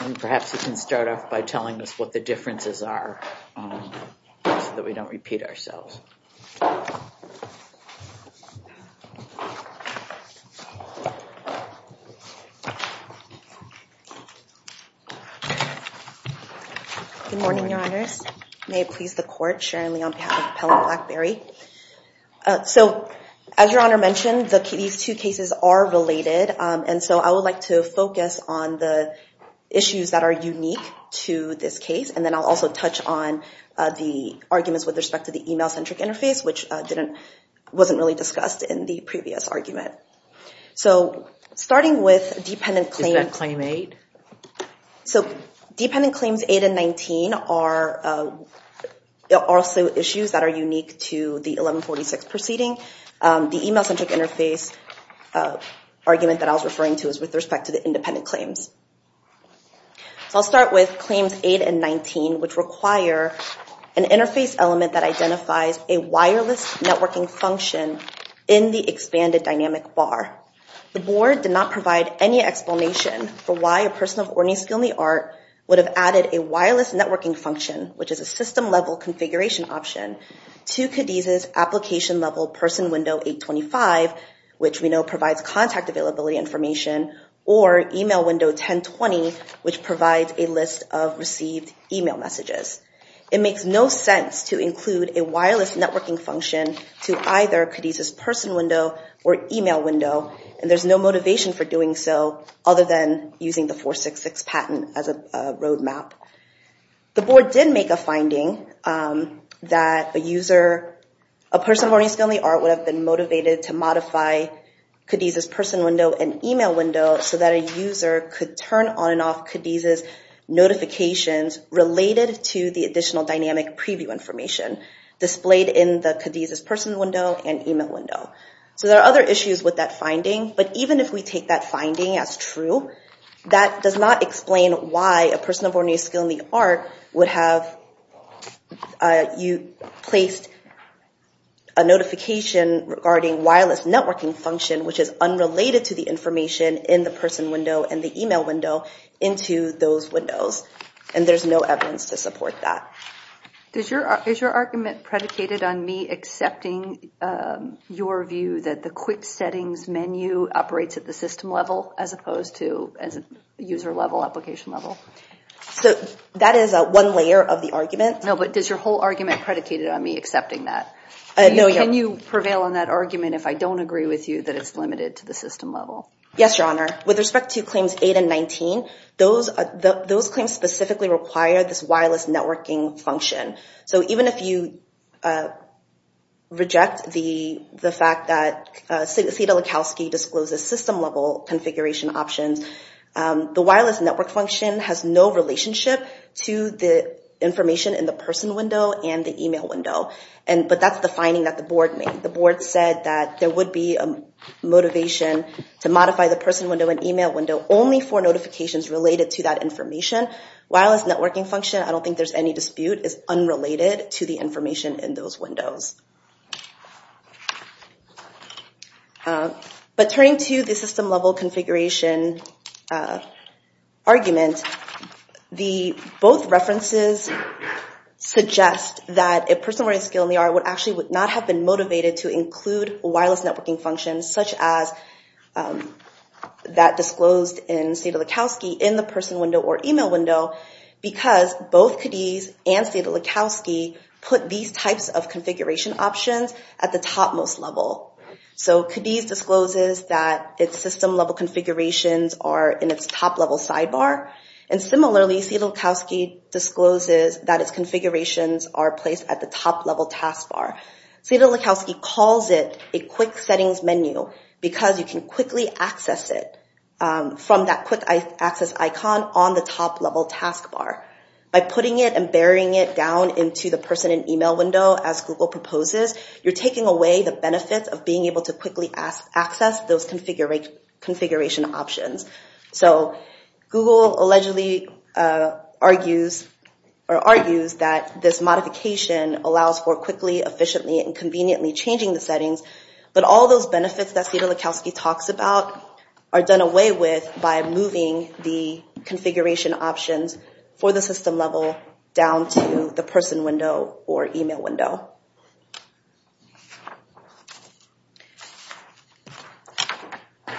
And perhaps you can start off by telling us what the differences are so that we don't repeat ourselves. Good morning, Your Honors. May it please the Court, Sharon Lee on behalf of Pellett Blackberry. So as Your Honor mentioned, these two cases are on the issues that are unique to this case. And then I'll also touch on the arguments with respect to the email-centric interface, which wasn't really discussed in the previous argument. So starting with dependent claims. Is that Claim 8? So dependent claims 8 and 19 are also issues that are unique to the 1146 proceeding. The email-centric interface argument that I was referring to is dependent claims. So I'll start with Claims 8 and 19, which require an interface element that identifies a wireless networking function in the expanded dynamic bar. The Board did not provide any explanation for why a person of orny skill in the art would have added a wireless networking function, which is a system-level configuration option, to Cadiz's application-level person window 825, which we know provides contact availability information, or email window 1020, which provides a list of received email messages. It makes no sense to include a wireless networking function to either Cadiz's person window or email window, and there's no motivation for doing so other than using the 466 patent as a roadmap. The Board did make a finding that a user, a person of orny skill in the art, would have been motivated to modify Cadiz's person window and email window so that a user could turn on and off Cadiz's notifications related to the additional dynamic preview information displayed in the Cadiz's person window and email window. So there are other issues with that finding, but even if we take that finding as true, that does not explain why a notification regarding wireless networking function, which is unrelated to the information in the person window and the email window, into those windows. And there's no evidence to support that. Is your argument predicated on me accepting your view that the quick settings menu operates at the system level as opposed to as a user-level application level? So that is a one layer of the argument. No, but does your whole argument predicated on me accepting that? Can you prevail on that argument if I don't agree with you that it's limited to the system level? Yes, Your Honor. With respect to claims 8 and 19, those claims specifically require this wireless networking function. So even if you reject the fact that Theda Likowski discloses system-level configuration options, the wireless network function has no relationship to the information in the person window and the email window. But that's the finding that the board made. The board said that there would be a motivation to modify the person window and email window only for notifications related to that information. Wireless networking function, I don't think there's any dispute, is unrelated to the information in those windows. But turning to the references suggest that a person with a skill in the art would actually would not have been motivated to include wireless networking functions such as that disclosed in Theda Likowski in the person window or email window because both Cadiz and Theda Likowski put these types of configuration options at the topmost level. So Cadiz discloses that its system-level configurations are in its top-level sidebar and similarly Theda Likowski discloses that its configurations are placed at the top-level taskbar. Theda Likowski calls it a quick settings menu because you can quickly access it from that quick access icon on the top-level taskbar. By putting it and burying it down into the person and email window as Google proposes, you're taking away the benefits of being able to quickly access those configuration options. So Google allegedly argues that this modification allows for quickly, efficiently, and conveniently changing the settings, but all those benefits that Theda Likowski talks about are done away with by moving the configuration options for the system level down to the person window or email window.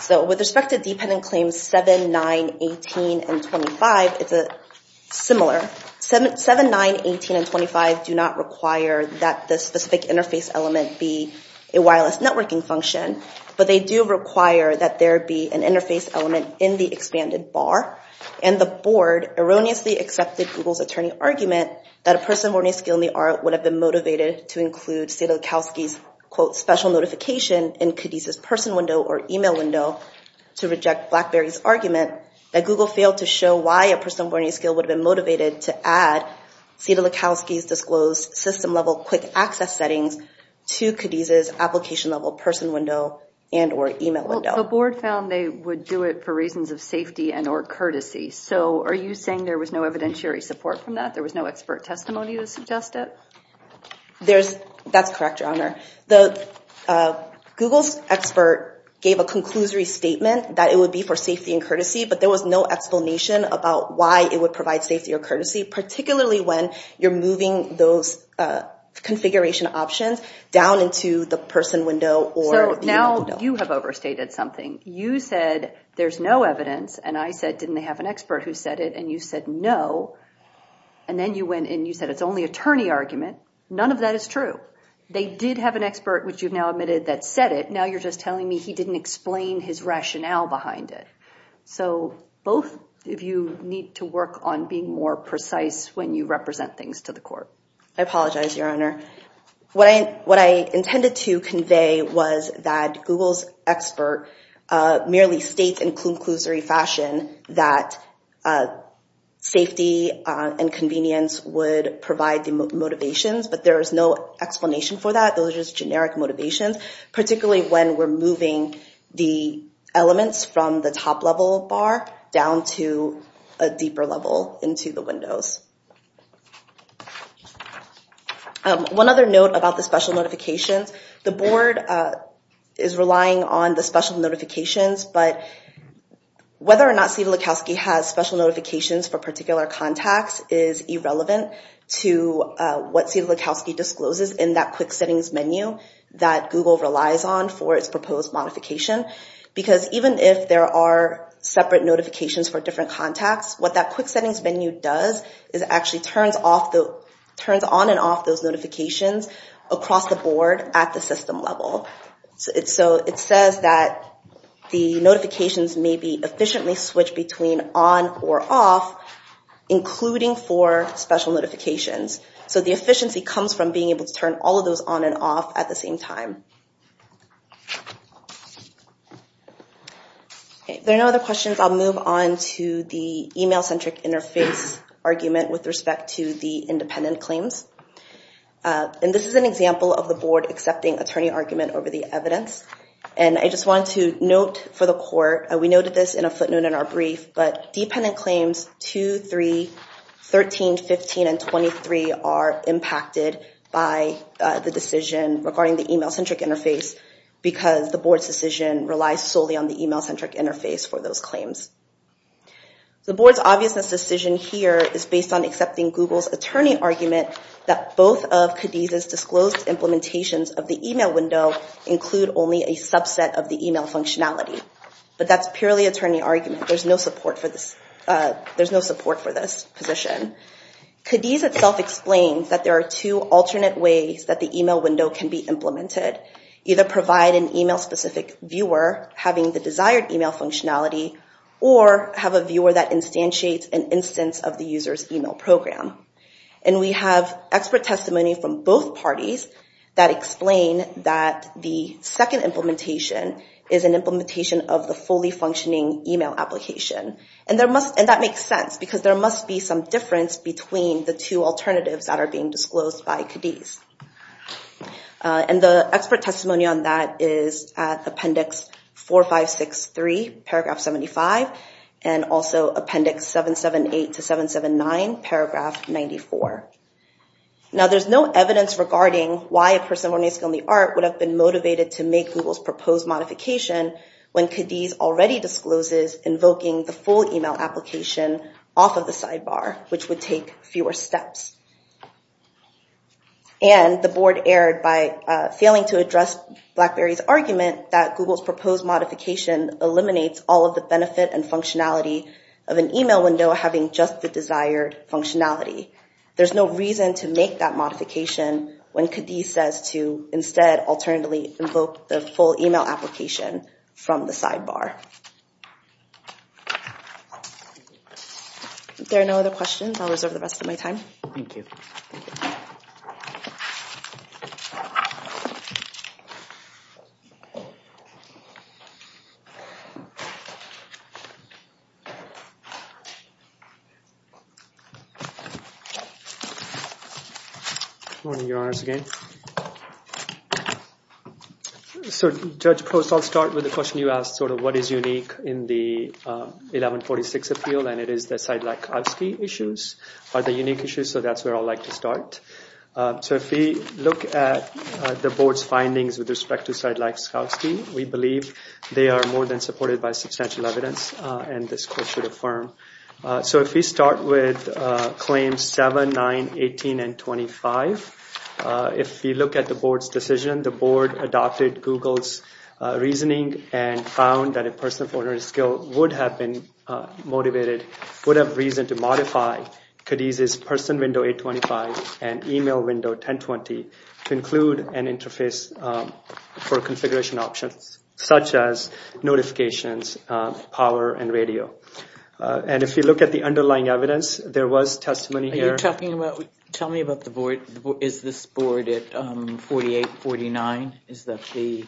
So with respect to dependent claims 7, 9, 18, and 25, it's similar. 7, 9, 18, and 25 do not require that the specific interface element be a wireless networking function, but they do require that there be an interface element in the expanded bar and the board erroneously accepted Google's attorney argument that a person-learning skill in the art would have been motivated to include Theda Likowski's quote special notification in Cadiz's person window or email window to reject BlackBerry's argument that Google failed to show why a person-learning skill would have been motivated to add Theda Likowski's disclosed system-level quick access settings to Cadiz's application-level person window and or safety and or courtesy. So are you saying there was no evidentiary support from that? There was no expert testimony to suggest it? There's, that's correct your honor. The Google's expert gave a conclusory statement that it would be for safety and courtesy, but there was no explanation about why it would provide safety or courtesy, particularly when you're moving those configuration options down into the person window or email window. So now you have overstated something. You said there's no evidence and I said didn't they have an expert who said it and you said no and then you went and you said it's only attorney argument. None of that is true. They did have an expert which you've now admitted that said it, now you're just telling me he didn't explain his rationale behind it. So both of you need to work on being more precise when you represent things to the court. I apologize your honor. What I intended to convey was that Google's expert merely states in conclusory fashion that safety and convenience would provide the motivations, but there is no explanation for that. Those are just generic motivations, particularly when we're moving the elements from the top level bar down to a deeper level into the notifications, but whether or not Steve Lukowski has special notifications for particular contacts is irrelevant to what Steve Lukowski discloses in that quick settings menu that Google relies on for its proposed modification, because even if there are separate notifications for different contacts, what that quick settings menu does is actually turns on and off those It says that the notifications may be efficiently switched between on or off, including for special notifications. So the efficiency comes from being able to turn all of those on and off at the same time. There are no other questions. I'll move on to the email-centric interface argument with respect to the independent claims, and this is an example of the board accepting attorney argument over the evidence, and I just want to note for the court, and we noted this in a footnote in our brief, but dependent claims 2, 3, 13, 15, and 23 are impacted by the decision regarding the email-centric interface because the board's decision relies solely on the email-centric interface for those claims. The board's obviousness decision here is based on accepting Google's attorney argument that both of Cadiz's disclosed implementations of the email window include only a subset of the email functionality, but that's purely attorney argument. There's no support for this position. Cadiz itself explains that there are two alternate ways that the email window can be implemented. Either provide an email specific viewer having the desired email functionality, or have a viewer that instantiates an instance of the user's email program, and we have expert testimony from both parties that explain that the second implementation is an implementation of the fully functioning email application, and that makes sense because there must be some difference between the two alternatives that are being disclosed by Cadiz, and the expert testimony on that is Appendix 4563, Paragraph 75, and also Appendix 778 to 779, Paragraph 94. Now there's no evidence regarding why a person with an ASCII only art would have been motivated to make Google's proposed modification when Cadiz already discloses invoking the full email application off of the sidebar, which would take fewer steps. And the board erred by failing to address BlackBerry's argument that Google's proposed modification eliminates all of the benefit and functionality of an email window having just the desired functionality. There's no reason to make that modification when Cadiz says to instead alternately invoke the full email application from the sidebar. If there are no other questions, I'll reserve the rest of my time. Good morning, Your Honors, again. So Judge Post, I'll start with the question you asked, sort of what is unique in the 1146 appeal, and it is the Sidelakowski issues are the unique issues, so that's where I'd like to start. So if we look at the board's findings with respect to the Sidelakowski issues, they are more than supported by substantial evidence, and this court should affirm. So if we start with claims 7, 9, 18, and 25, if we look at the board's decision, the board adopted Google's reasoning and found that a person of ordinary skill would have been motivated, would have reason to modify Cadiz's person window 825 and email window 1020 to include an interface for notifications, power, and radio. And if you look at the underlying evidence, there was testimony here. Are you talking about, tell me about the board, is this board at 48, 49? Is that the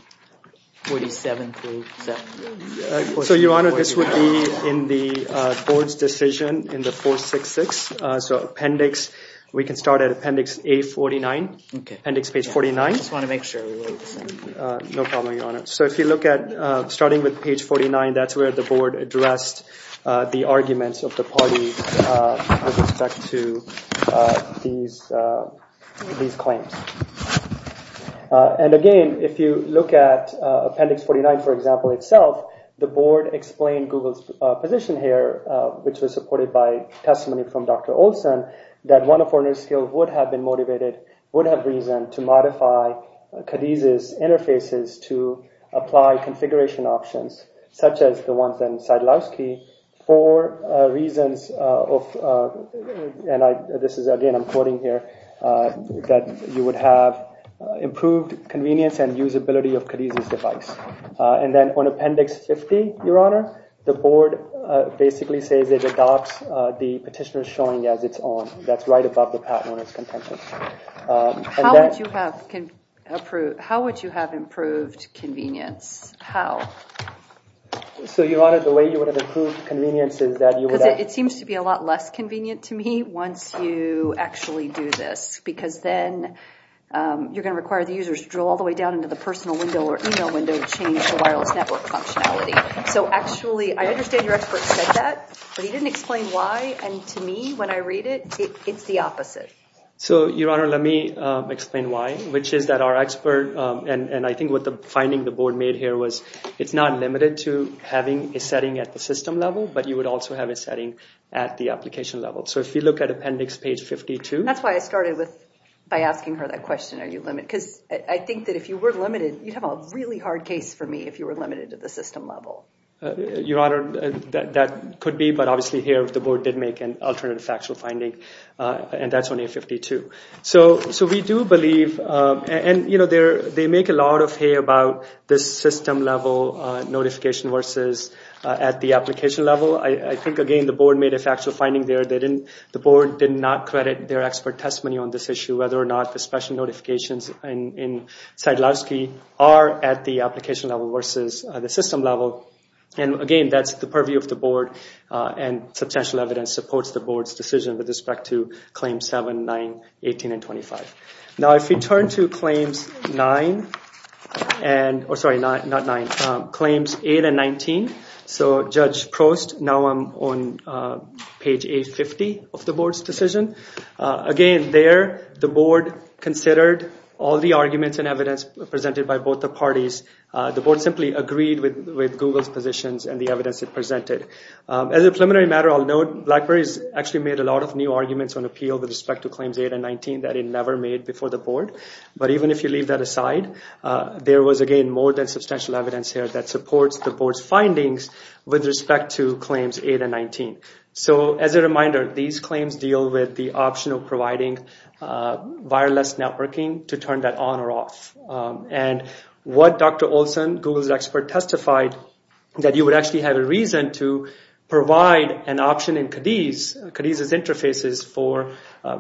47th? So Your Honor, this would be in the board's decision in the 466, so appendix, we can start at appendix A49, appendix page 49. I just want to make sure. No problem, Your Honor. So if you look at, starting with page 49, that's where the board addressed the arguments of the party with respect to these claims. And again, if you look at appendix 49, for example, itself, the board explained Google's position here, which was supported by testimony from Dr. Olson, that one of ordinary skill would have been motivated, would have reason to use Cadiz's interfaces to apply configuration options, such as the ones in Sadlowski, for reasons of, and I, this is again, I'm quoting here, that you would have improved convenience and usability of Cadiz's device. And then on appendix 50, Your Honor, the board basically says it adopts the petitioner showing as its own. That's right above the patent on its contentious. How would you have improved convenience? How? So Your Honor, the way you would have improved convenience is that you would have... It seems to be a lot less convenient to me once you actually do this, because then you're going to require the users to drill all the way down into the personal window or email window to change the wireless network functionality. So actually, I understand your expert said that, but he didn't explain why, and to me when I read it, it's the opposite. So Your Honor, let me explain why, which is that our expert, and I think what the finding the board made here was, it's not limited to having a setting at the system level, but you would also have a setting at the application level. So if you look at appendix page 52... That's why I started with, by asking her that question, are you limited? Because I think that if you were limited, you'd have a really hard case for me if you were limited to the system level. Your Honor, that could be, but obviously here the alternative factual finding, and that's on page 52. So we do believe, and you know, they make a lot of hay about this system level notification versus at the application level. I think, again, the board made a factual finding there. The board did not credit their expert testimony on this issue, whether or not the special notifications in Sadlowski are at the application level versus the system level. And again, that's the purview of the board, and substantial evidence supports the board's decision with respect to claims 7, 9, 18, and 25. Now if we turn to claims 9 and, or sorry, not 9, claims 8 and 19. So Judge Prost, now I'm on page 850 of the board's decision. Again, there, the board considered all the arguments and evidence presented by both the parties. The board simply agreed with Google's positions and the evidence it provided. As a preliminary matter, I'll note Blackberry's actually made a lot of new arguments on appeal with respect to claims 8 and 19 that it never made before the board. But even if you leave that aside, there was again more than substantial evidence here that supports the board's findings with respect to claims 8 and 19. So as a reminder, these claims deal with the option of providing wireless networking to turn that on or off. And what Dr. Olson, Google's expert, testified that you would actually have a reason to provide an option in Cadiz, Cadiz's interfaces, for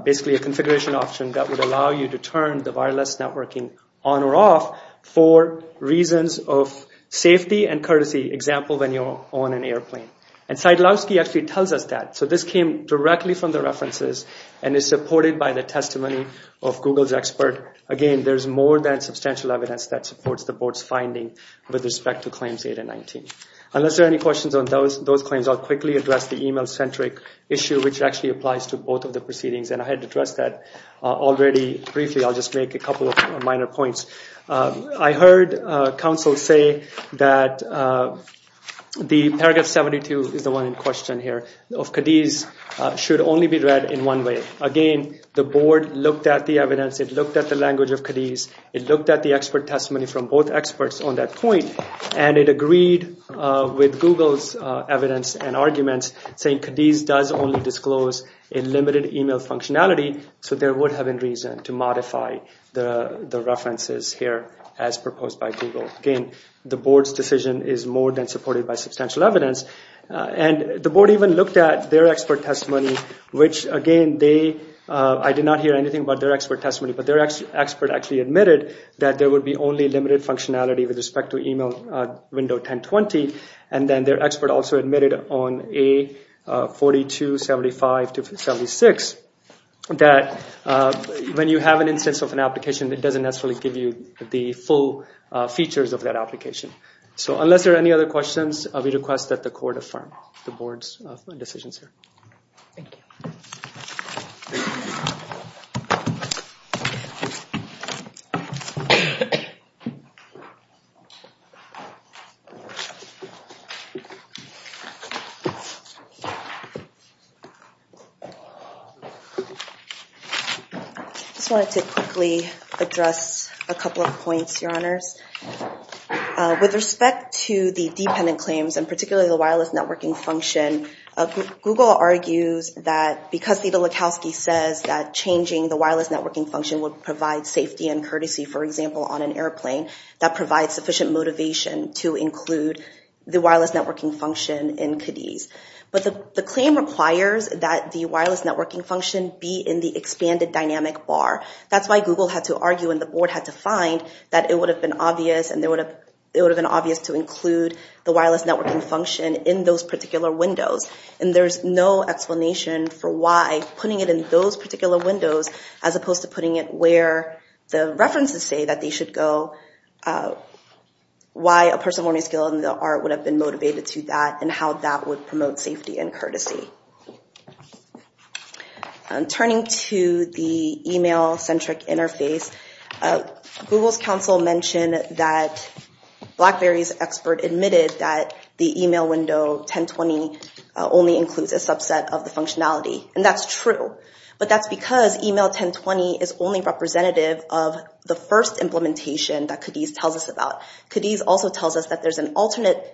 basically a configuration option that would allow you to turn the wireless networking on or off for reasons of safety and courtesy, example when you're on an airplane. And Sadlowski actually tells us that. So this came directly from the references and is supported by the testimony of Google's expert. Again, there's more than substantial evidence that supports the claims 8 and 19. Unless there are any questions on those those claims, I'll quickly address the email-centric issue, which actually applies to both of the proceedings. And I had to address that already briefly. I'll just make a couple of minor points. I heard counsel say that the paragraph 72 is the one in question here of Cadiz should only be read in one way. Again, the board looked at the evidence, it looked at the language of Cadiz, it looked at the expert testimony from both experts on that point, and it agreed with Google's evidence and arguments saying Cadiz does only disclose a limited email functionality, so there would have been reason to modify the references here as proposed by Google. Again, the board's decision is more than supported by substantial evidence. And the board even looked at their expert testimony, which again, I did not hear anything about their expert testimony, but their only limited functionality with respect to email window 1020, and then their expert also admitted on A4275-76 that when you have an instance of an application, it doesn't necessarily give you the full features of that application. So unless there are any other questions, we request that the panel be adjourned. I just wanted to quickly address a couple of points, Your Honors. With respect to the dependent claims, and particularly the wireless networking function, Google argues that because Vita Likowsky says that changing the wireless networking function would provide safety and courtesy, for example, on an airplane, that provides sufficient motivation to include the wireless networking function in Cadiz. But the claim requires that the wireless networking function be in the expanded dynamic bar. That's why Google had to argue and the board had to find that it would have been obvious to include the wireless networking function in those particular windows, and there's no particular windows, as opposed to putting it where the references say that they should go, why a person with a learning skill in the art would have been motivated to that, and how that would promote safety and courtesy. Turning to the email-centric interface, Google's counsel mentioned that BlackBerry's expert admitted that the email window 1020 only includes a subset of the functionality, and that's true. But that's because email 1020 is only representative of the first implementation that Cadiz tells us about. Cadiz also tells us that there's an alternate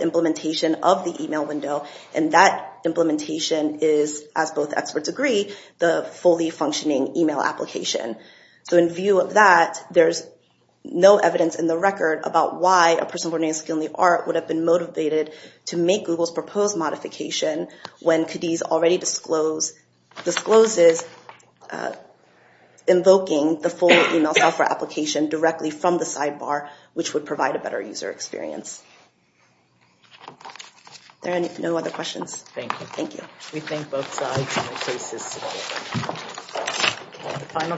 implementation of the email window, and that implementation is, as both experts agree, the fully functioning email application. So in view of that, there's no evidence in the record about why a person with a learning skill in the art would have been motivated to make Google's proposed modification when Cadiz already discloses invoking the full email software application directly from the sidebar, which would provide a better user experience. Are there any other questions? Thank you.